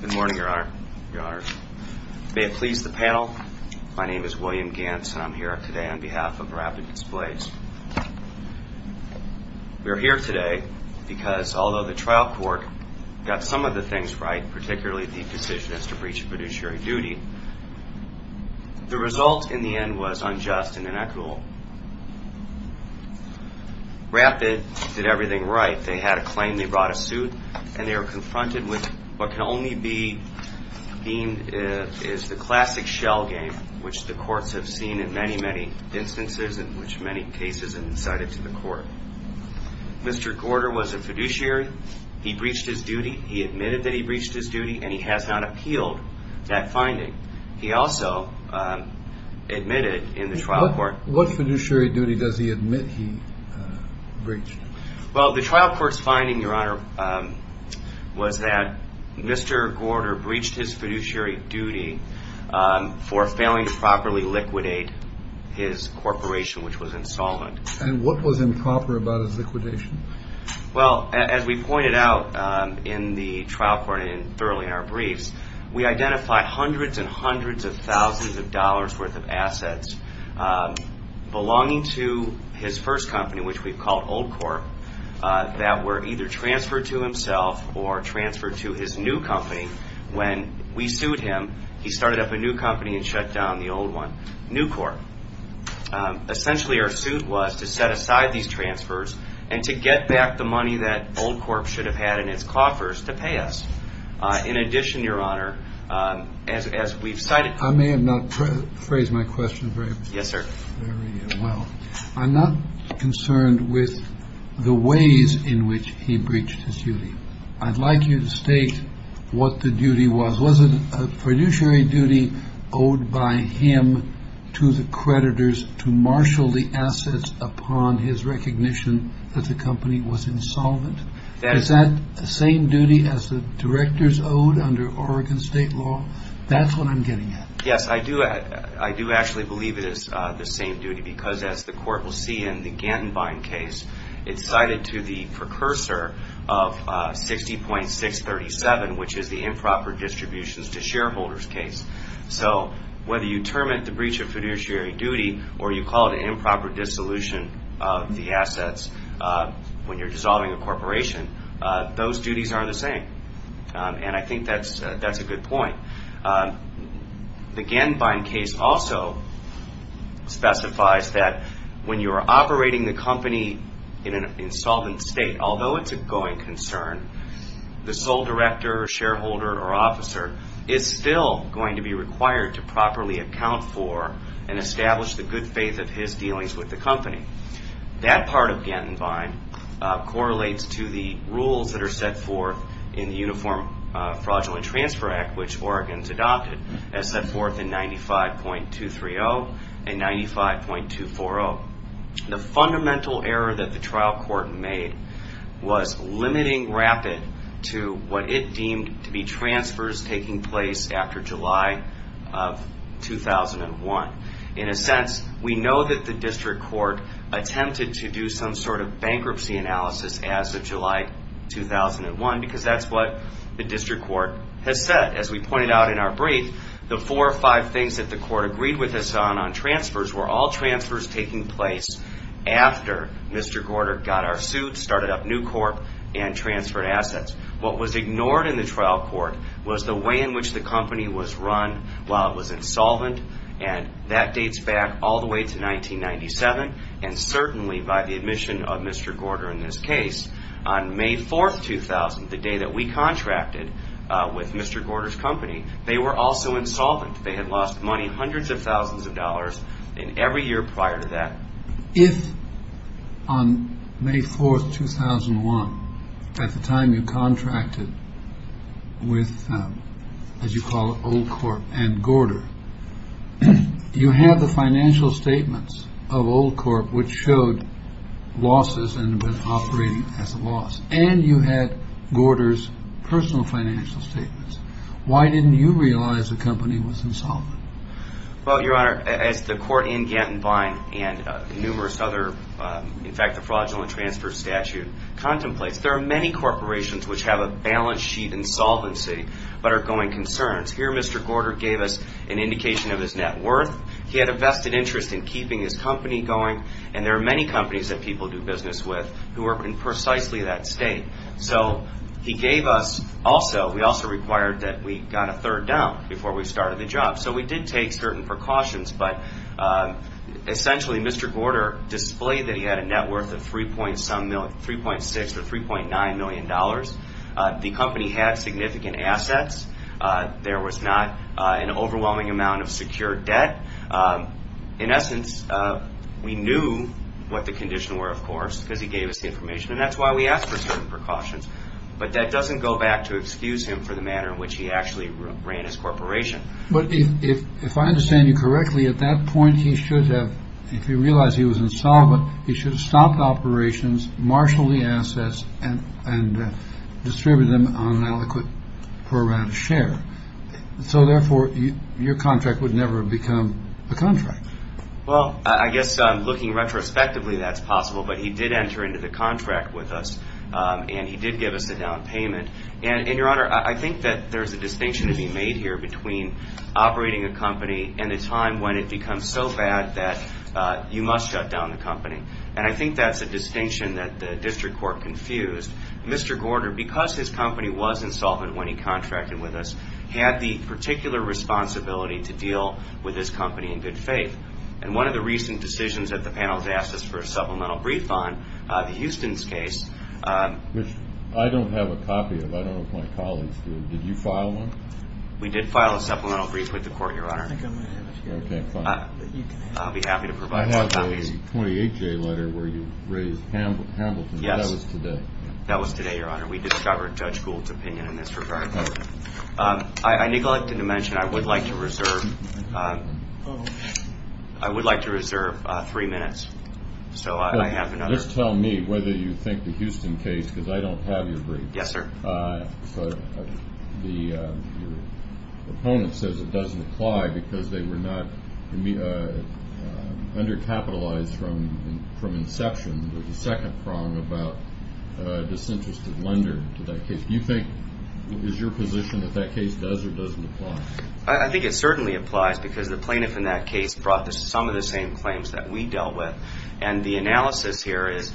Good morning, Your Honor. May it please the panel, my name is William Gantz and I'm here today on behalf of Rapid Displays. We're here today because although the trial court got some of the things right, particularly the decision as to breach of fiduciary duty, the result in the end was unjust and inequitable. Rapid did everything right. They had a claim, they brought a suit, and they were confronted with what can only be deemed is the classic shell game, which the courts have seen in many, many instances and which many cases have been cited to the court. Mr. Gorder was a fiduciary, he breached his duty, he admitted that he breached his duty, and he has not appealed that finding. He also admitted in the trial court. What fiduciary duty does he admit he breached? Well, the trial court's finding, Your Honor, was that Mr. Gorder breached his fiduciary duty for failing to properly liquidate his corporation, which was Insolvent. And what was improper about his liquidation? Well, as we pointed out in the trial court and thoroughly in our briefs, we identified hundreds and hundreds of thousands of dollars worth of assets belonging to his first company, which we've called Old Corp, that were either transferred to himself or transferred to his new company. When we sued him, he started up a new company and shut down the old one, New Corp. Essentially, our suit was to set aside these transfers and to get back the money that Old Corp should have had in its coffers to pay us. In addition, Your Honor, as we've cited. I may have not phrased my question very well. I'm not concerned with the ways in which he breached his duty. I'd like you to state what the duty was. Was it a fiduciary duty owed by him to the creditors to marshal the assets upon his recognition that the company was insolvent? Is that the same duty as the directors owed under Oregon state law? That's what I'm getting at. Yes, I do. I do actually believe it is the same duty because as the court will see in the Gantenbein case, it's cited to the precursor of 60.637, which is the improper distributions to shareholders case. So whether you term it the breach of fiduciary duty or you call it an improper dissolution of the assets when you're dissolving a corporation, those duties are the same. And I think that's a good point. The Gantenbein case also specifies that when you are operating the company in an insolvent state, although it's a going concern, the sole director or shareholder or officer is still going to be required to properly account for and establish the good faith of his dealings with the company. That part of Gantenbein correlates to the rules that are set forth in the Uniform Fraudulent Transfer Act, which Oregon's adopted as set forth in 95.230 and 95.240. The fundamental error that the trial court made was limiting RAPID to what it deemed to be transfers taking place after July of 2001. In a sense, we know that the district court attempted to do some sort of bankruptcy analysis as of July 2001, because that's what the district court has said. As we pointed out in our brief, the four or five things that the court agreed with us on, on transfers, were all transfers taking place after Mr. Gorter got our suit, started up New Corp, and transferred assets. What was ignored in the trial court was the way in which the company was run while it was insolvent, and that dates back all the way to 1997, and certainly by the admission of Mr. Gorter in this case. On May 4, 2000, the day that we contracted with Mr. Gorter's company, they were also insolvent. They had lost money, hundreds of thousands of dollars, in every year prior to that. If on May 4, 2001, at the time you contracted with, as you call it, Old Corp and Gorter, you had the financial statements of Old Corp, which showed losses and was operating as a loss, and you had Gorter's personal financial statements, why didn't you realize the company was insolvent? Well, Your Honor, as the court in Ganton Vine and numerous other, in fact, the fraudulent transfer statute contemplates, there are many corporations which have a balance sheet insolvency but are going concerns. Here Mr. Gorter gave us an indication of his net worth. He had a vested interest in keeping his company going, and there are many companies that people do business with who are in precisely that state. So he gave us also, we also required that we got a third down before we started the job. So we did take certain precautions, but essentially Mr. Gorter displayed that he had a net worth of $3.6 or $3.9 million. The company had significant assets. There was not an overwhelming amount of secure debt. In essence, we knew what the conditions were, of course, because he gave us the information, and that's why we asked for certain precautions. But that doesn't go back to excuse him for the manner in which he actually ran his corporation. But if I understand you correctly, at that point he should have, if he realized he was insolvent, he should have stopped operations, marshaled the assets, and distributed them on an adequate per round share. So therefore, your contract would never have become a contract. Well, I guess looking retrospectively that's possible, but he did enter into the contract with us, and he did give us a down payment. And, Your Honor, I think that there's a distinction to be made here between operating a company and a time when it becomes so bad that you must shut down the company. And I think that's a distinction that the district court confused. Mr. Gorter, because his company was insolvent when he contracted with us, had the particular responsibility to deal with his company in good faith. And one of the recent decisions that the panel has asked us for a supplemental brief on, the Houston's case. Which I don't have a copy of. I don't know if my colleagues do. Did you file one? We did file a supplemental brief with the court, Your Honor. I think I'm going to have it here. Okay, fine. I'll be happy to provide more copies. You have a 28-J letter where you raise Hamilton. Yes. That was today. That was today, Your Honor. We discovered Judge Gould's opinion in this regard. I neglected to mention I would like to reserve three minutes. Just tell me whether you think the Houston case, because I don't have your brief. Yes, sir. Your opponent says it doesn't apply because they were not undercapitalized from inception. There was a second prong about disinterested lender to that case. Do you think, is your position that that case does or doesn't apply? I think it certainly applies, because the plaintiff in that case brought some of the same claims that we dealt with. And the analysis here is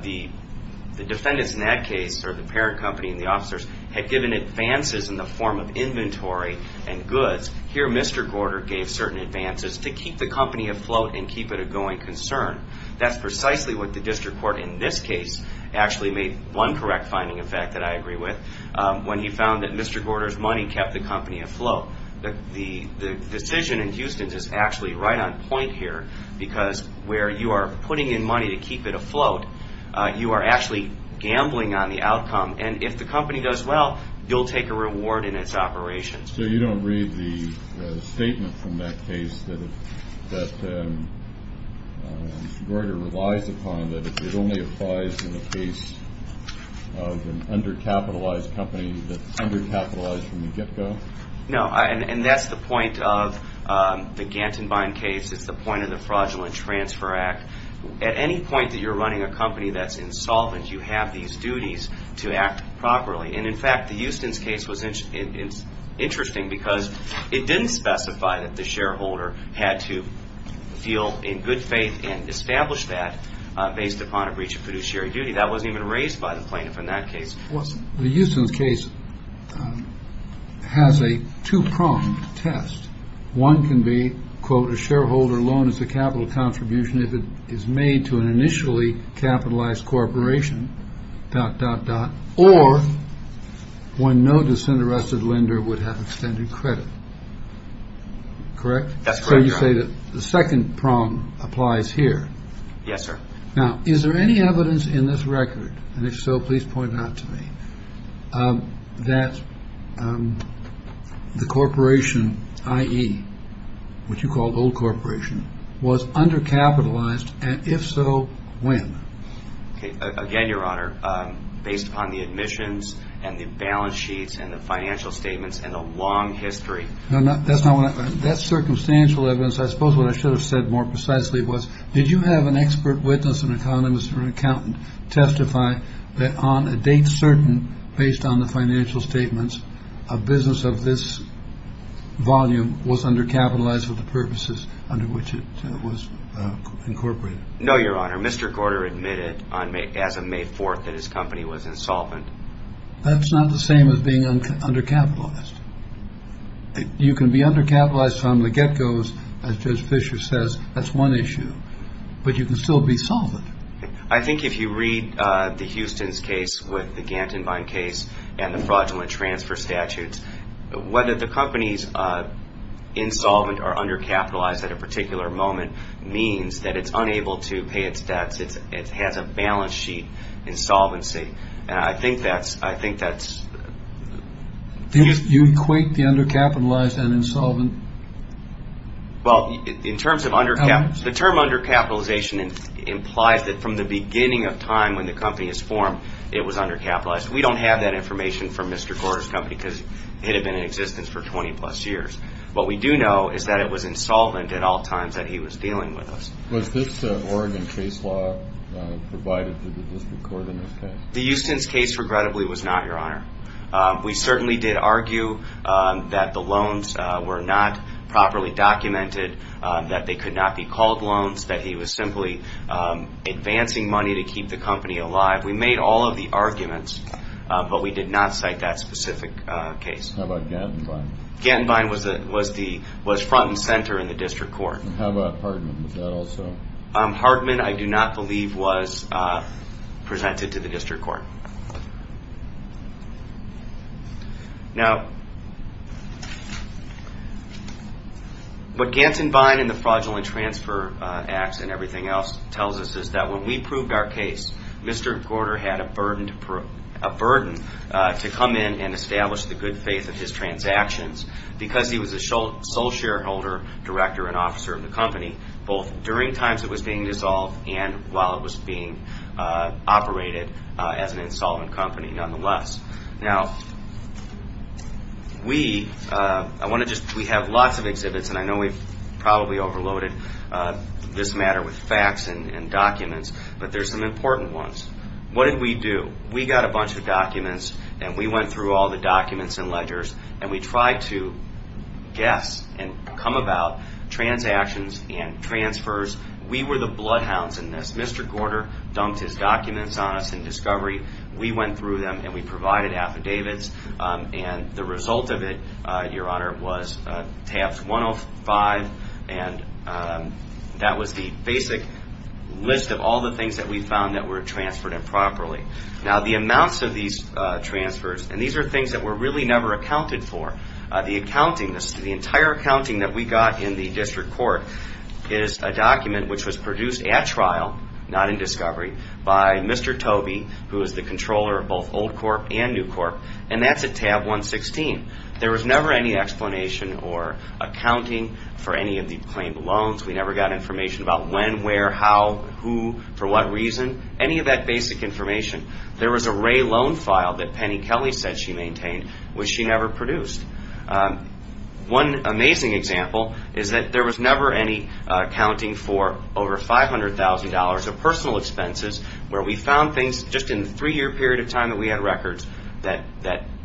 the defendants in that case, or the parent company and the officers, had given advances in the form of inventory and goods. Here, Mr. Gorder gave certain advances to keep the company afloat and keep it a going concern. That's precisely what the district court in this case actually made one correct finding, in fact, that I agree with, when he found that Mr. Gorder's money kept the company afloat. The decision in Houston is actually right on point here, because where you are putting in money to keep it afloat, you are actually gambling on the outcome. And if the company does well, you'll take a reward in its operations. So you don't read the statement from that case that Mr. Gorder relies upon, that it only applies in the case of an undercapitalized company that's undercapitalized from the get-go? No, and that's the point of the Gantenbein case. It's the point of the Fraudulent Transfer Act. At any point that you're running a company that's insolvent, you have these duties to act properly. And, in fact, the Houston case was interesting, because it didn't specify that the shareholder had to feel in good faith and establish that based upon a breach of fiduciary duty. That wasn't even raised by the plaintiff in that case. The Houston case has a two-pronged test. One can be, quote, a shareholder loan as a capital contribution if it is made to an initially capitalized corporation, dot, dot, dot, or when no disinterested lender would have extended credit. Correct? That's correct, Your Honor. So you say that the second prong applies here. Yes, sir. Now, is there any evidence in this record, and if so, please point out to me, that the corporation, i.e., what you call the old corporation, was undercapitalized, and if so, when? Again, Your Honor, based upon the admissions and the balance sheets and the financial statements and the long history. No, that's not what I meant. That's circumstantial evidence. I suppose what I should have said more precisely was, did you have an expert witness, an economist, or an accountant, testify that on a date certain based on the financial statements, a business of this volume was undercapitalized for the purposes under which it was incorporated? No, Your Honor. Mr. Gorter admitted as of May 4th that his company was insolvent. That's not the same as being undercapitalized. You can be undercapitalized from the get-go, as Judge Fischer says. That's one issue. But you can still be solvent. I think if you read the Houston's case with the Gantenbein case and the fraudulent transfer statutes, whether the company's insolvent or undercapitalized at a particular moment means that it's unable to pay its debts. It has a balance sheet insolvency. I think that's the case. Do you equate the undercapitalized and insolvent? Well, in terms of undercapitalization, the term undercapitalization implies that from the beginning of time when the company was formed, it was undercapitalized. We don't have that information from Mr. Gorter's company because it had been in existence for 20-plus years. What we do know is that it was insolvent at all times that he was dealing with us. Was this Oregon case law provided to the district court in this case? The Houston's case, regrettably, was not, Your Honor. We certainly did argue that the loans were not properly documented, that they could not be called loans, that he was simply advancing money to keep the company alive. We made all of the arguments, but we did not cite that specific case. How about Gantenbein? Gantenbein was front and center in the district court. How about Hartman? Was that also? Hartman, I do not believe, was presented to the district court. Now, what Gantenbein and the Fraudulent Transfer Acts and everything else tells us is that when we proved our case, Mr. Gorter had a burden to come in and establish the good faith of his transactions because he was the sole shareholder, director, and officer of the company, both during times it was being dissolved and while it was being operated as an insolvent company, nonetheless. Now, we have lots of exhibits, and I know we've probably overloaded this matter with facts and documents, but there's some important ones. What did we do? We got a bunch of documents, and we went through all the documents and ledgers, and we tried to guess and come about transactions and transfers. We were the bloodhounds in this. Mr. Gorter dumped his documents on us in discovery. We went through them, and we provided affidavits, and the result of it, Your Honor, was tabs 105, and that was the basic list of all the things that we found that were transferred improperly. Now, the amounts of these transfers, and these are things that were really never accounted for. The accounting, the entire accounting that we got in the district court, is a document which was produced at trial, not in discovery, by Mr. Tobey, who is the controller of both Old Corp. and New Corp., and that's at tab 116. There was never any explanation or accounting for any of the claimed loans. We never got information about when, where, how, who, for what reason. Any of that basic information. There was a Ray loan file that Penny Kelly said she maintained, which she never produced. One amazing example is that there was never any accounting for over $500,000 of personal expenses where we found things just in the three-year period of time that we had records that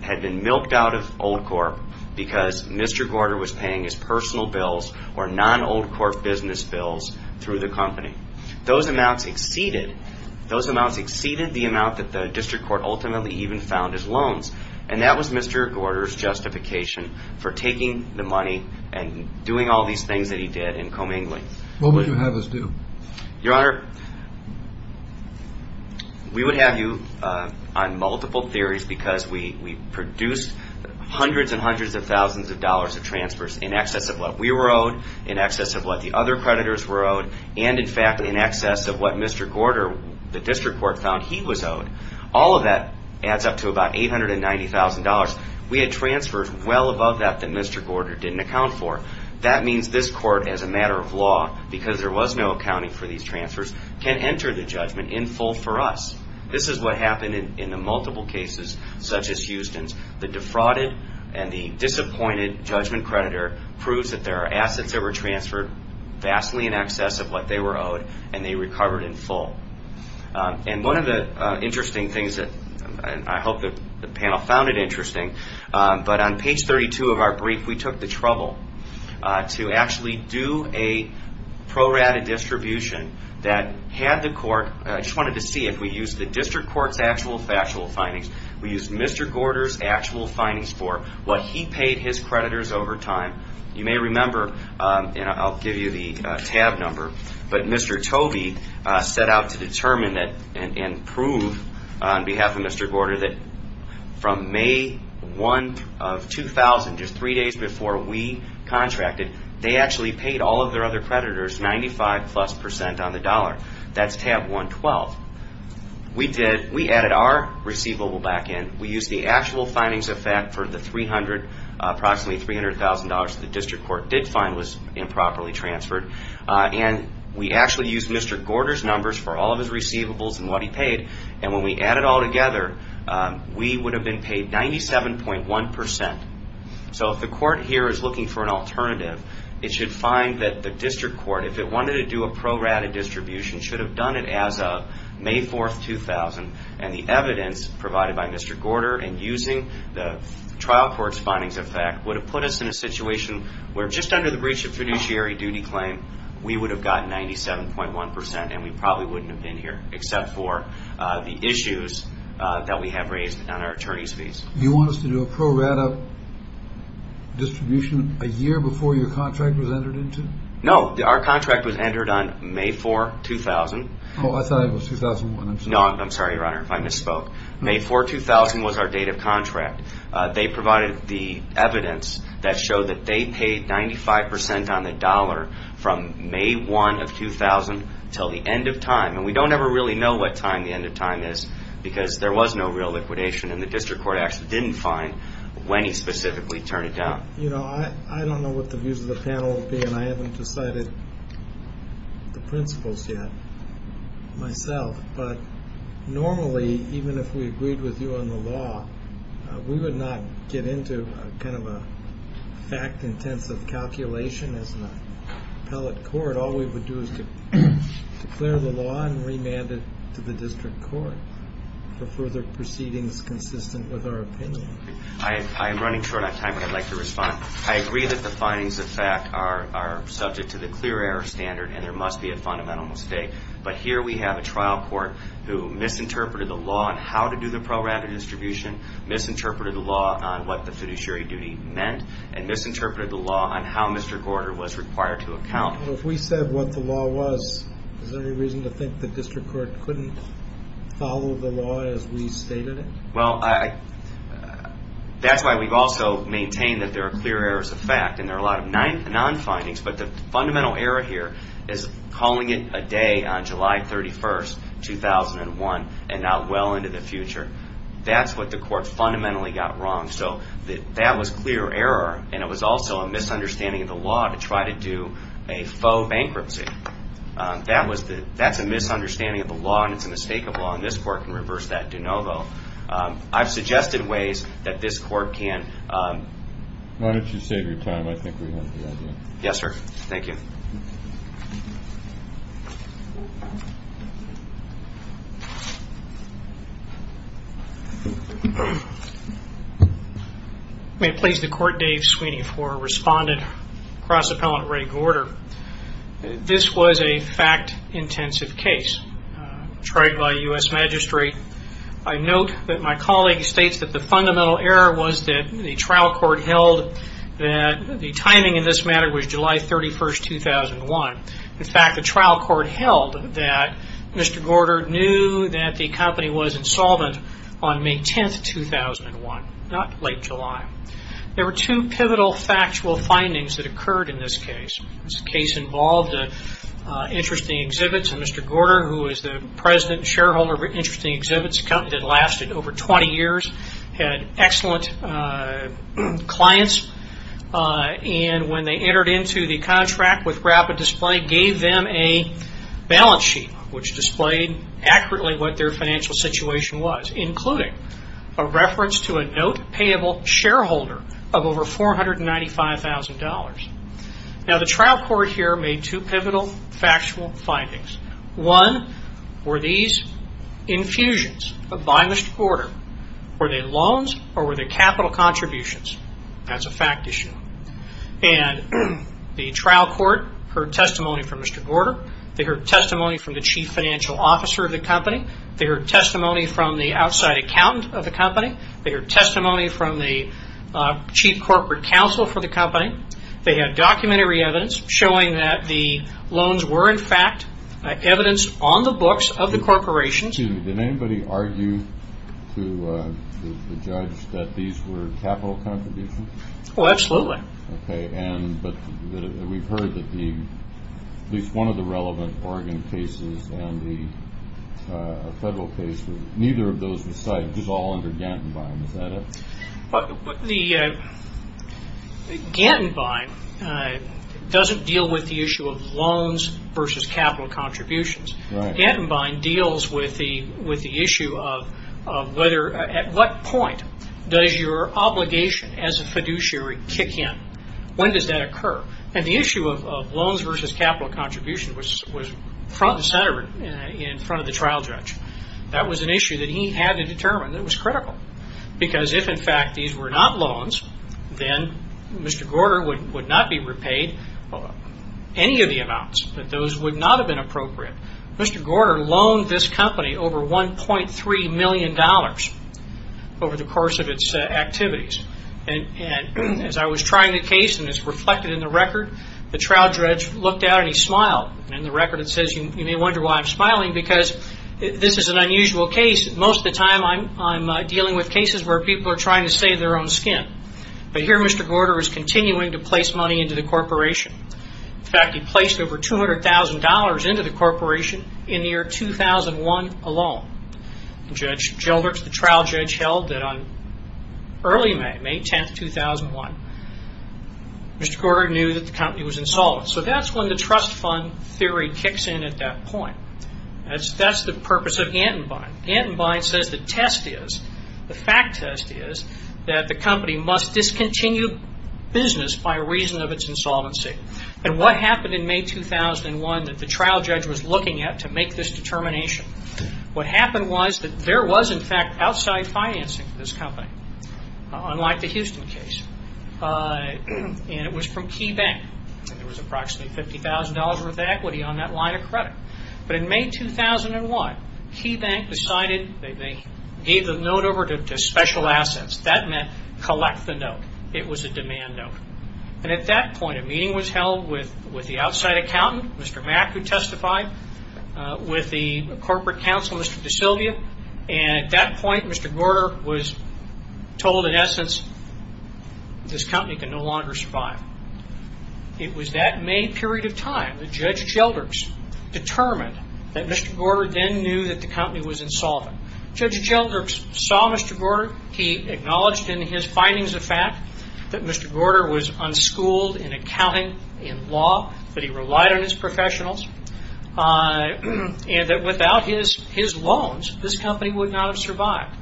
had been milked out of Old Corp. because Mr. Gorter was paying his personal bills or non-Old Corp. business bills through the company. Those amounts exceeded the amount that the district court ultimately even found as loans, and that was Mr. Gorter's justification for taking the money and doing all these things that he did in commingling. What would you have us do? Your Honor, we would have you on multiple theories because we produced hundreds and hundreds of thousands of dollars of transfers in excess of what we were owed, in excess of what the other creditors were owed, and in fact, in excess of what Mr. Gorter, the district court, found he was owed. All of that adds up to about $890,000. We had transfers well above that that Mr. Gorter didn't account for. That means this court, as a matter of law, because there was no accounting for these transfers, can enter the judgment in full for us. This is what happened in the multiple cases such as Houston's. The defrauded and the disappointed judgment creditor proves that there are assets that were transferred vastly in excess of what they were owed, and they recovered in full. One of the interesting things that I hope the panel found interesting, but on page 32 of our brief, we took the trouble to actually do a prorated distribution that had the court, I just wanted to see if we used the district court's actual factual findings, we used Mr. Gorter's actual findings for what he paid his creditors over time. You may remember, and I'll give you the tab number, but Mr. Tobey set out to determine and prove on behalf of Mr. Gorter that from May 1 of 2000, just three days before we contracted, they actually paid all of their other creditors 95 plus percent on the dollar. That's tab 112. We added our receivable back in. We used the actual findings of fact for the approximately $300,000 that the district court did find was improperly transferred, and we actually used Mr. Gorter's numbers for all of his receivables and what he paid, and when we added it all together, we would have been paid 97.1 percent. So if the court here is looking for an alternative, it should find that the district court, if it wanted to do a prorated distribution, should have done it as of May 4, 2000, and the evidence provided by Mr. Gorter in using the trial court's findings of fact would have put us in a situation where just under the breach of fiduciary duty claim, we would have gotten 97.1 percent and we probably wouldn't have been here except for the issues that we have raised on our attorney's fees. You want us to do a prorated distribution a year before your contract was entered into? No, our contract was entered on May 4, 2000. Oh, I thought it was 2001. No, I'm sorry, Your Honor, if I misspoke. May 4, 2000 was our date of contract. They provided the evidence that showed that they paid 95 percent on the dollar from May 1 of 2000 until the end of time, and we don't ever really know what time the end of time is because there was no real liquidation, and the district court actually didn't find when he specifically turned it down. You know, I don't know what the views of the panel will be, and I haven't decided the principles yet myself, but normally even if we agreed with you on the law, we would not get into kind of a fact-intensive calculation as an appellate court. All we would do is declare the law and remand it to the district court for further proceedings consistent with our opinion. I'm running short on time, but I'd like to respond. I agree that the findings of fact are subject to the clear error standard, and there must be a fundamental mistake, but here we have a trial court who misinterpreted the law on how to do the pro rata distribution, misinterpreted the law on what the fiduciary duty meant, and misinterpreted the law on how Mr. Gorder was required to account. Well, if we said what the law was, is there any reason to think the district court couldn't follow the law as we stated it? Well, that's why we've also maintained that there are clear errors of fact, and there are a lot of non-findings, but the fundamental error here is calling it a day on July 31st, 2001, and not well into the future. That's what the court fundamentally got wrong, so that was clear error, and it was also a misunderstanding of the law to try to do a faux bankruptcy. That's a misunderstanding of the law, and it's a mistake of law, and this court can reverse that de novo. I've suggested ways that this court can. Why don't you save your time? I think we have the idea. Yes, sir. Thank you. May it please the Court, Dave Sweeney for Respondent, Cross-Appellant Ray Gorder. This was a fact-intensive case tried by a U.S. magistrate. I note that my colleague states that the fundamental error was that the trial court held that the timing in this matter was July 31st, 2001. In fact, the trial court held that Mr. Gorder knew that the company was insolvent on May 10th, 2001, not late July. There were two pivotal factual findings that occurred in this case. This case involved interesting exhibits, and Mr. Gorder, who is the president and shareholder of Interesting Exhibits, a company that lasted over 20 years, had excellent clients, and when they entered into the contract with Rapid Display, gave them a balance sheet which displayed accurately what their financial situation was, including a reference to a note-payable shareholder of over $495,000. Now, the trial court here made two pivotal factual findings. One, were these infusions by Mr. Gorder, were they loans or were they capital contributions? That's a fact issue. And the trial court heard testimony from Mr. Gorder. They heard testimony from the chief financial officer of the company. They heard testimony from the outside accountant of the company. They heard testimony from the chief corporate counsel for the company. They had documentary evidence showing that the loans were, in fact, evidenced on the books of the corporations. Excuse me, did anybody argue to the judge that these were capital contributions? Oh, absolutely. Okay, but we've heard that at least one of the relevant Oregon cases and the federal case, neither of those were cited. It was all under Gantenbein. Is that it? Gantenbein doesn't deal with the issue of loans versus capital contributions. Gantenbein deals with the issue of at what point does your obligation as a fiduciary kick in? When does that occur? And the issue of loans versus capital contributions was front and center in front of the trial judge. That was an issue that he had to determine that was critical because if, in fact, these were not loans, then Mr. Gorder would not be repaid any of the amounts. Those would not have been appropriate. Mr. Gorder loaned this company over $1.3 million over the course of its activities. As I was trying the case, and it's reflected in the record, the trial judge looked out and he smiled. In the record it says, you may wonder why I'm smiling because this is an unusual case. Most of the time I'm dealing with cases where people are trying to save their own skin. But here Mr. Gorder is continuing to place money into the corporation. In fact, he placed over $200,000 into the corporation in the year 2001 alone. The trial judge held that on early May, May 10, 2001, Mr. Gorder knew that the company was insolvent. So that's when the trust fund theory kicks in at that point. That's the purpose of Antenbein. Antenbein says the test is, the fact test is, that the company must discontinue business by reason of its insolvency. And what happened in May 2001 that the trial judge was looking at to make this determination? What happened was that there was, in fact, outside financing for this company, unlike the Houston case. And it was from Key Bank. There was approximately $50,000 worth of equity on that line of credit. But in May 2001, Key Bank decided they gave the note over to special assets. That meant collect the note. It was a demand note. And at that point a meeting was held with the outside accountant, Mr. Mack, who testified, with the corporate counsel, Mr. DeSilvia. And at that point, Mr. Gorder was told, in essence, this company can no longer survive. It was that May period of time that Judge Gelders determined that Mr. Gorder then knew that the company was insolvent. Judge Gelders saw Mr. Gorder. He acknowledged in his findings of fact that Mr. Gorder was unschooled in accounting, in law, that he relied on his professionals, and that without his loans, this company would not have survived.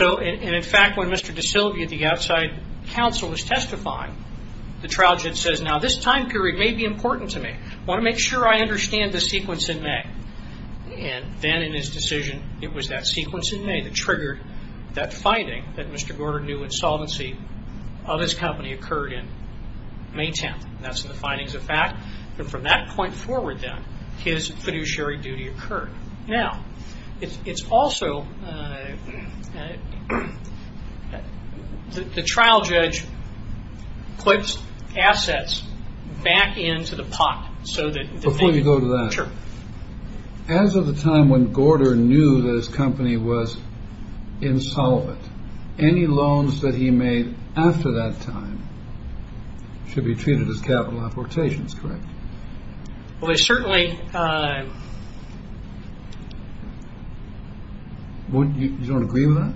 And, in fact, when Mr. DeSilvia, the outside counsel, was testifying, the trial judge says, now this time period may be important to me. I want to make sure I understand the sequence in May. And then in his decision, it was that sequence in May that triggered that finding that Mr. Gorder knew insolvency of his company occurred in May 10th. And that's in the findings of fact. And from that point forward, then, his fiduciary duty occurred. Now, it's also, the trial judge puts assets back into the pot so that the thing. Before you go to that. Sure. As of the time when Gorder knew that his company was insolvent, any loans that he made after that time should be treated as capital apportations, correct? Well, certainly. You don't agree with that?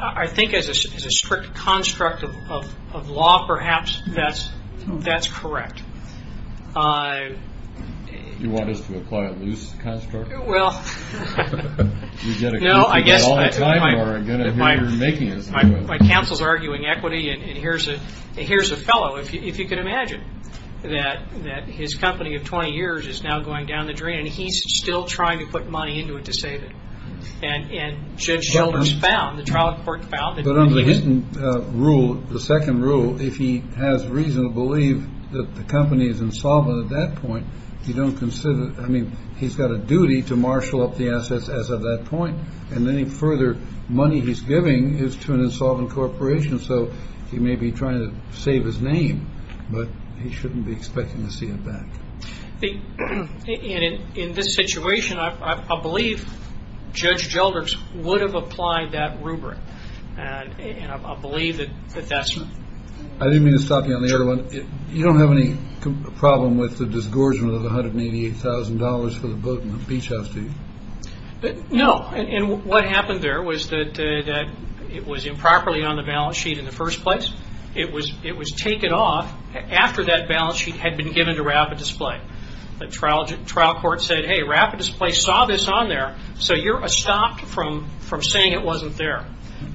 I think as a strict construct of law, perhaps, that's correct. You want us to apply a loose construct? Well, no, I guess my counsel's arguing equity. And here's a fellow, if you can imagine, that his company of 20 years is now going down the drain, and he's still trying to put money into it to save it. And Judge Shelders found, the trial court found. But under the Hinton rule, the second rule, if he has reason to believe that the company is insolvent at that point, you don't consider, I mean, he's got a duty to marshal up the assets as of that point. And any further money he's giving is to an insolvent corporation. So he may be trying to save his name, but he shouldn't be expecting to see it back. In this situation, I believe Judge Shelders would have applied that rubric. And I believe that that's. I didn't mean to stop you on the other one. You don't have any problem with the disgorgement of $188,000 for the boat and the beach house deed? No. And what happened there was that it was improperly on the balance sheet in the first place. It was taken off after that balance sheet had been given to Rapid Display. The trial court said, hey, Rapid Display saw this on there, so you're stopped from saying it wasn't there.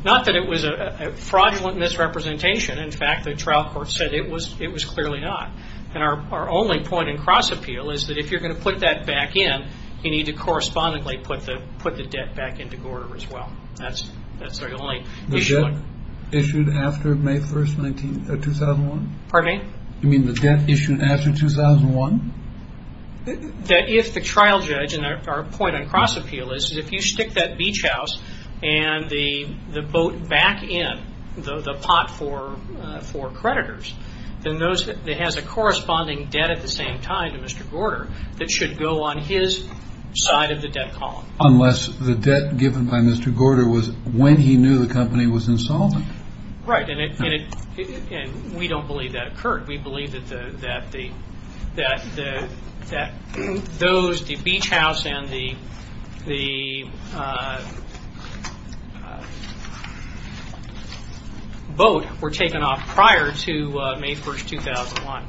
Not that it was a fraudulent misrepresentation. In fact, the trial court said it was clearly not. And our only point in cross-appeal is that if you're going to put that back in, you need to correspondingly put the debt back into Gorter as well. That's the only issue. The debt issued after May 1st, 2001? Pardon me? You mean the debt issued after 2001? That if the trial judge, and our point on cross-appeal is, is if you stick that beach house and the boat back in, the pot for creditors, then it has a corresponding debt at the same time to Mr. Gorter that should go on his side of the debt column. Unless the debt given by Mr. Gorter was when he knew the company was insolvent. Right. And we don't believe that occurred. We believe that the beach house and the boat were taken off prior to May 1st, 2001.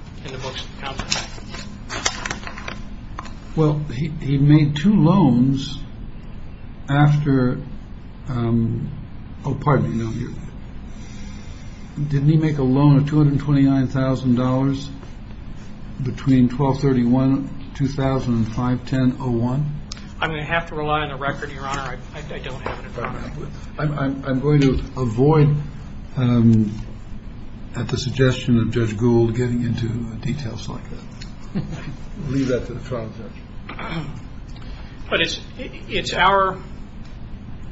Well, he made two loans after, pardon me, didn't he make a loan of $229,000 between 12-31-2005-10-01? I'm going to have to rely on the record, Your Honor. I don't have it in front of me. I'm going to avoid, at the suggestion of Judge Gould, getting into details like that. Leave that to the trial judge. But it's our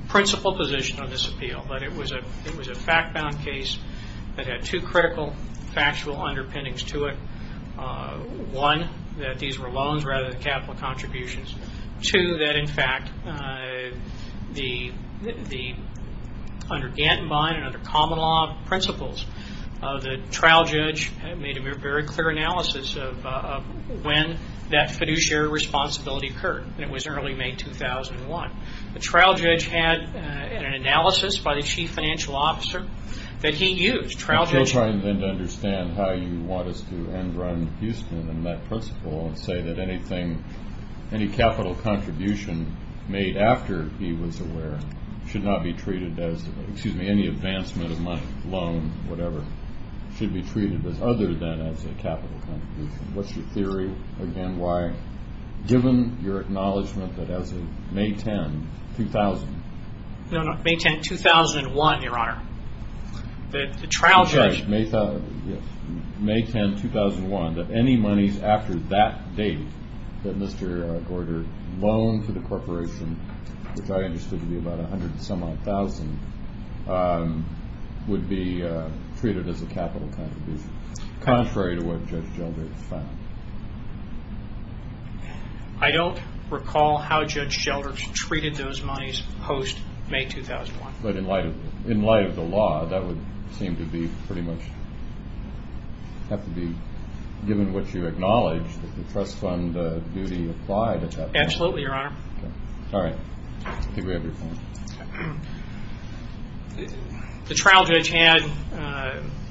principal position on this appeal, that it was a fact-bound case that had two critical factual underpinnings to it. One, that these were loans rather than capital contributions. Two, that, in fact, under Gantenbein and under common law principles, the trial judge made a very clear analysis of when that fiduciary responsibility occurred, and it was early May 2001. The trial judge had an analysis by the chief financial officer that he used. I'm still trying then to understand how you want us to end Ron Huston and that principal and say that anything, any capital contribution made after he was aware should not be treated as, excuse me, any advancement of money, loan, whatever, should be treated as other than as a capital contribution. What's your theory? Again, why? Given your acknowledgment that as of May 10, 2000... No, no, May 10, 2001, Your Honor. The trial judge... Yes. May 10, 2001, that any monies after that date that Mr. Gorder loaned to the corporation, which I understood to be about $100,000 would be treated as a capital contribution, contrary to what Judge Sheldrake found. I don't recall how Judge Sheldrake treated those monies post-May 2001. But in light of the law, that would seem to be pretty much have to be, given what you acknowledge, that the trust fund duty applied at that time. Absolutely, Your Honor. All right. I think we have your point. The trial judge had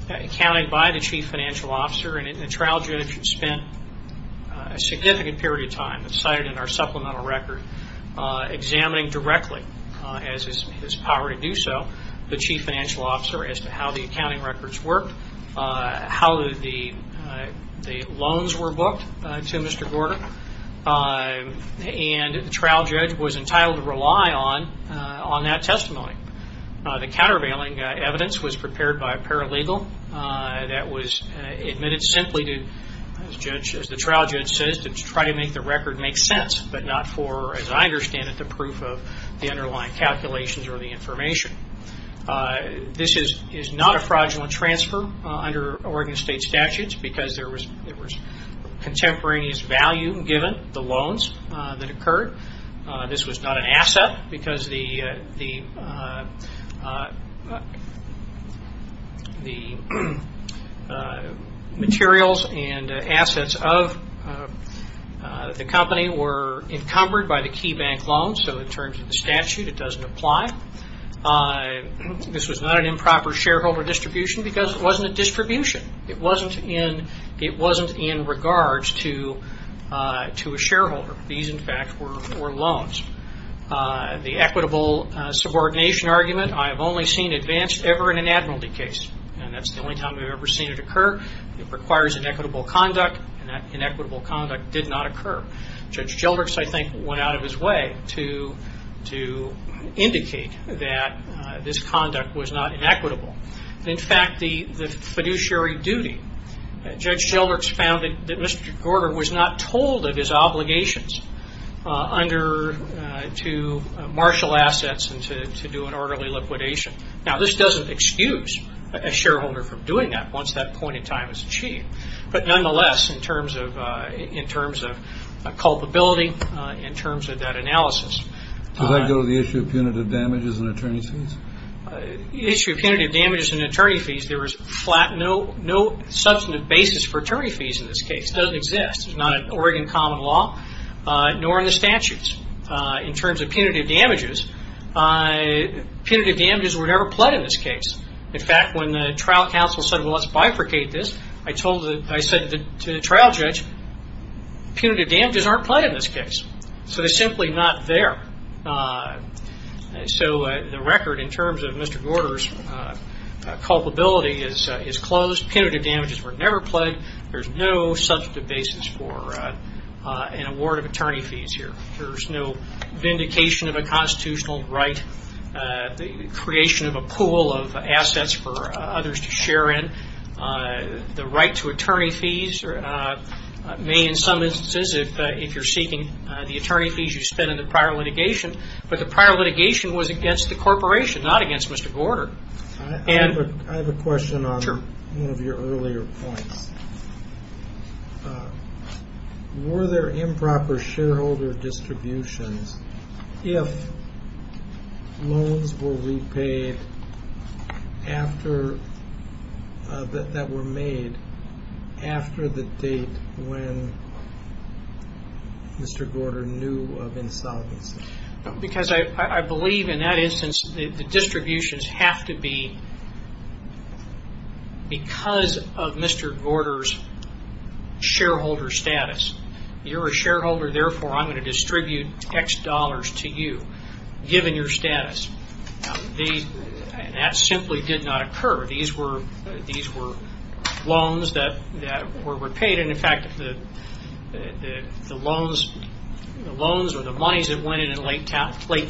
accounting by the chief financial officer, and the trial judge spent a significant period of time, as cited in our supplemental record, examining directly, as is his power to do so, the chief financial officer as to how the accounting records worked, how the loans were booked to Mr. Gorder. And the trial judge was entitled to rely on that testimony. The countervailing evidence was prepared by a paralegal that was admitted simply to, as the trial judge says, to try to make the record make sense, but not for, as I understand it, the proof of the underlying calculations or the information. This is not a fraudulent transfer under Oregon State statutes, because there was contemporaneous value given the loans that occurred. This was not an asset, because the materials and assets of the company were encumbered by the key bank loans, so in terms of the statute, it doesn't apply. This was not an improper shareholder distribution, because it wasn't a distribution. It wasn't in regards to a shareholder. These, in fact, were loans. The equitable subordination argument, I have only seen advanced ever in an admiralty case, and that's the only time I've ever seen it occur. It requires inequitable conduct, and that inequitable conduct did not occur. Judge Gelderks, I think, went out of his way to indicate that this conduct was not inequitable. In fact, the fiduciary duty, Judge Gelderks found that Mr. Gordon was not told of his obligations under, to marshal assets and to do an orderly liquidation. Now, this doesn't excuse a shareholder from doing that once that point in time is achieved, but nonetheless, in terms of culpability, in terms of that analysis. Could I go to the issue of punitive damages and attorney's fees? The issue of punitive damages and attorney's fees, there was no substantive basis for attorney's fees in this case. It doesn't exist. It's not an Oregon common law, nor in the statutes. In terms of punitive damages, punitive damages were never pled in this case. In fact, when the trial counsel said, well, let's bifurcate this, I said to the trial judge, punitive damages aren't pled in this case, so they're simply not there. So the record in terms of Mr. Gordon's culpability is closed. Punitive damages were never pled. There's no substantive basis for an award of attorney fees here. There's no vindication of a constitutional right, creation of a pool of assets for others to share in. The right to attorney fees may, in some instances, if you're seeking the attorney fees you spent in the prior litigation, but the prior litigation was against the corporation, not against Mr. Gordon. I have a question on one of your earlier points. Were there improper shareholder distributions if loans were repaid that were made after the date when Mr. Gordon knew of insolvency? Because I believe in that instance the distributions have to be because of Mr. Gordon's shareholder status. You're a shareholder, therefore I'm going to distribute X dollars to you, given your status. That simply did not occur. These were loans that were repaid, and in fact the loans or the monies that went in in late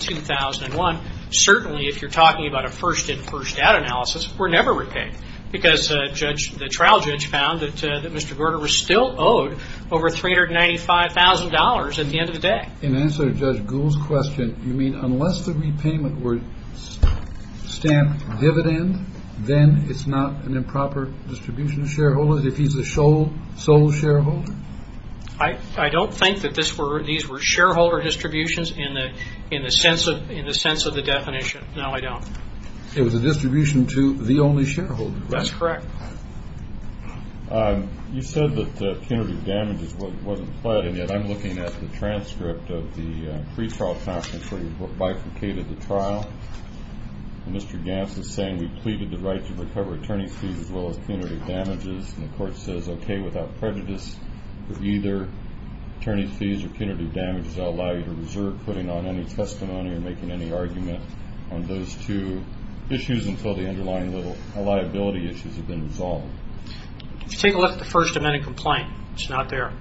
2001, certainly if you're talking about a first-in-first-out analysis, were never repaid, because the trial judge found that Mr. Gordon was still owed over $395,000 at the end of the day. In answer to Judge Gould's question, you mean unless the repayment were stamped dividend, then it's not an improper distribution of shareholders if he's the sole shareholder? I don't think that these were shareholder distributions in the sense of the definition. No, I don't. It was a distribution to the only shareholder. That's correct. You said that punitive damages wasn't pled, and yet I'm looking at the transcript of the pretrial trial before you bifurcated the trial. Mr. Gants is saying we pleaded the right to recover attorney fees as well as punitive damages, and the Court says okay, without prejudice, but either attorney fees or punitive damages I'll allow you to reserve putting on any testimony or making any argument on those two issues until the underlying liability issues have been resolved. Take a look at the First Amendment complaint. It's not there.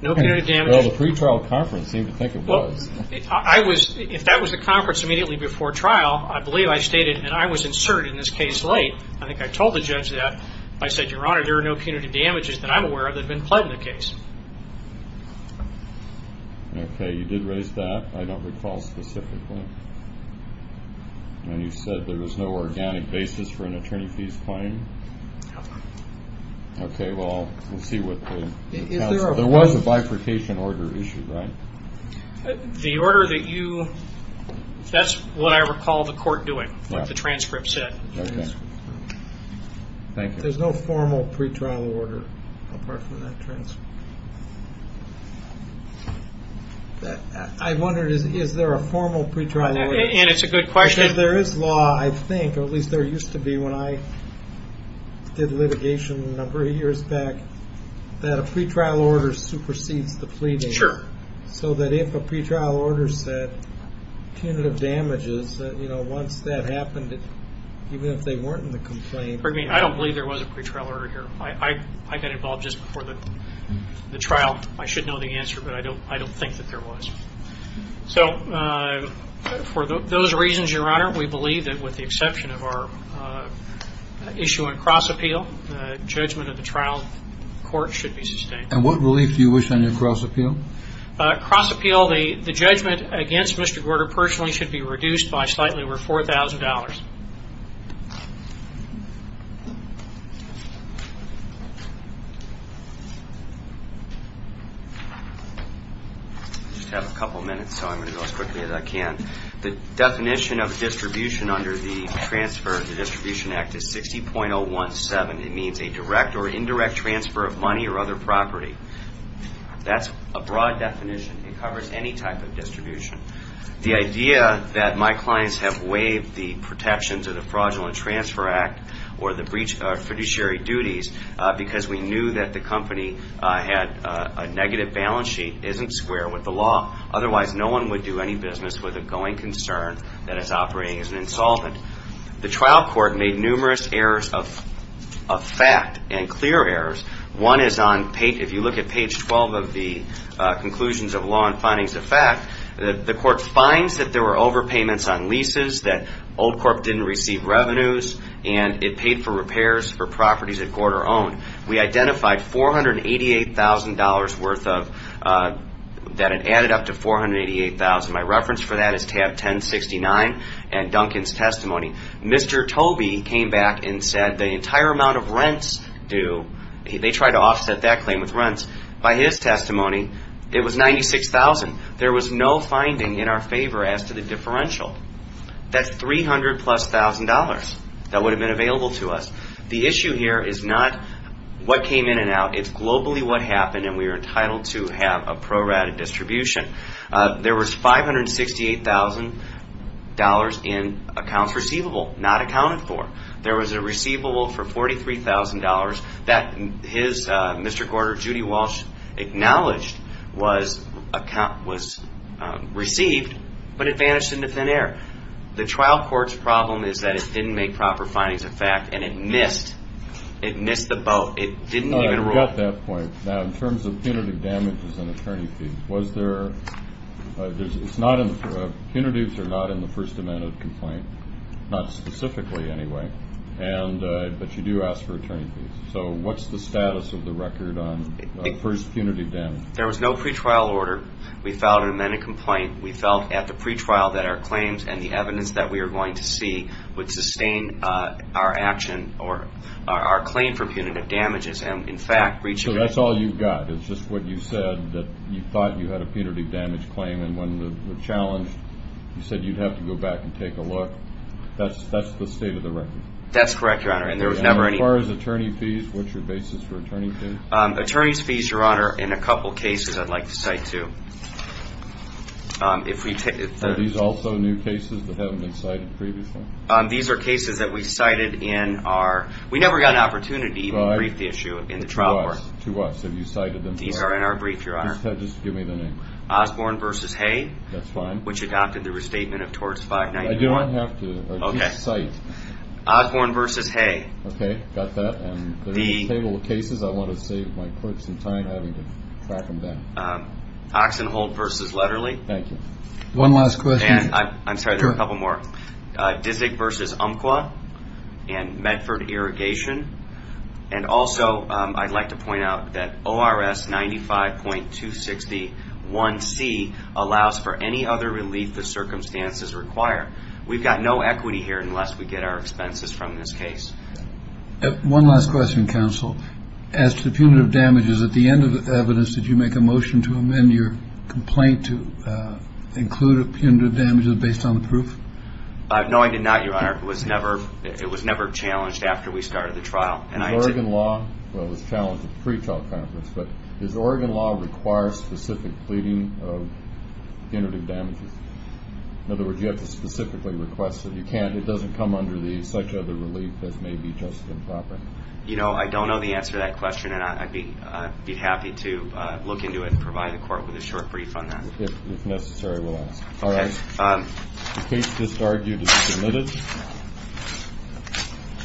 No punitive damages. Well, the pretrial conference seemed to think it was. If that was the conference immediately before trial, I believe I stated, and I was inserted in this case late, I think I told the judge that. I said, Your Honor, there are no punitive damages that I'm aware of that have been pled in the case. Okay, you did raise that. I don't recall specifically. And you said there was no organic basis for an attorney fees claim? No. Okay, well, we'll see what the counsel says. There was a bifurcation order issue, right? The order that you, that's what I recall the Court doing, what the transcript said. Okay. Thank you. There's no formal pretrial order apart from that transcript. I wondered, is there a formal pretrial order? And it's a good question. There is law, I think, or at least there used to be when I did litigation a number of years back, that a pretrial order supersedes the pleading. Sure. So that if a pretrial order said punitive damages, once that happened, even if they weren't in the complaint. I don't believe there was a pretrial order here. I got involved just before the trial. I should know the answer, but I don't think that there was. So for those reasons, Your Honor, we believe that with the exception of our issue on cross-appeal, the judgment of the trial court should be sustained. And what relief do you wish on your cross-appeal? Cross-appeal, the judgment against Mr. Gorter personally should be reduced by slightly over $4,000. I just have a couple minutes, so I'm going to go as quickly as I can. The definition of distribution under the transfer of the Distribution Act is 60.017. It means a direct or indirect transfer of money or other property. That's a broad definition. It covers any type of distribution. The idea that my clients have waived the protections of the Fraudulent Transfer Act or the fiduciary duties because we knew that the company had a negative balance sheet isn't square with the law. Otherwise, no one would do any business with a going concern that it's operating as an insolvent. The trial court made numerous errors of fact and clear errors. One is if you look at page 12 of the Conclusions of Law and Findings of Fact, the court finds that there were overpayments on leases, that Old Corp. didn't receive revenues, and it paid for repairs for properties that Gorter owned. We identified $488,000 that had added up to $488,000. My reference for that is tab 1069 and Duncan's testimony. Mr. Tobey came back and said the entire amount of rents due. They tried to offset that claim with rents. By his testimony, it was $96,000. There was no finding in our favor as to the differential. That's $300,000-plus that would have been available to us. The issue here is not what came in and out. It's globally what happened, and we are entitled to have a prorated distribution. There was $568,000 in accounts receivable, not accounted for. There was a receivable for $43,000 that his, Mr. Gorter, Judy Walsh, acknowledged was received, but it vanished into thin air. The trial court's problem is that it didn't make proper findings of fact, and it missed. It missed the boat. It didn't even rule. At that point, in terms of punitive damages and attorney fees, punitives are not in the first amendment complaint, not specifically anyway, but you do ask for attorney fees. So what's the status of the record on first punitive damages? There was no pretrial order. We filed an amended complaint. We felt at the pretrial that our claims and the evidence that we were going to see would sustain our action or our claim for punitive damages. So that's all you've got is just what you said, that you thought you had a punitive damage claim, and when challenged, you said you'd have to go back and take a look. That's the state of the record? That's correct, Your Honor, and there was never any— As far as attorney fees, what's your basis for attorney fees? Attorney fees, Your Honor, in a couple cases I'd like to cite, too. Are these also new cases that haven't been cited previously? These are cases that we cited in our—we never got an opportunity to brief the issue. To us. To us. Have you cited them before? These are in our brief, Your Honor. Just give me the name. Osborne v. Hay. That's fine. Which adopted the restatement of Torts 591. I do not have to. Okay. Just cite. Osborne v. Hay. Okay. Got that. And there's a table of cases I want to save my clerks some time having to track them down. Oxenholt v. Lederle. Thank you. One last question. I'm sorry, there are a couple more. Disick v. Umpqua and Medford Irrigation. And also I'd like to point out that ORS 95.261C allows for any other relief the circumstances require. We've got no equity here unless we get our expenses from this case. One last question, counsel. As to punitive damages, at the end of the evidence, did you make a motion to amend your complaint to include punitive damages based on the proof? No, I did not, Your Honor. It was never challenged after we started the trial. Is Oregon law, well, it was challenged at the pretrial conference, but does Oregon law require specific pleading of punitive damages? In other words, you have to specifically request that you can't. It doesn't come under such other relief as maybe just improper. You know, I don't know the answer to that question, and I'd be happy to look into it and provide the court with a short brief on that. If necessary, we'll ask. Okay. The case is argued and submitted.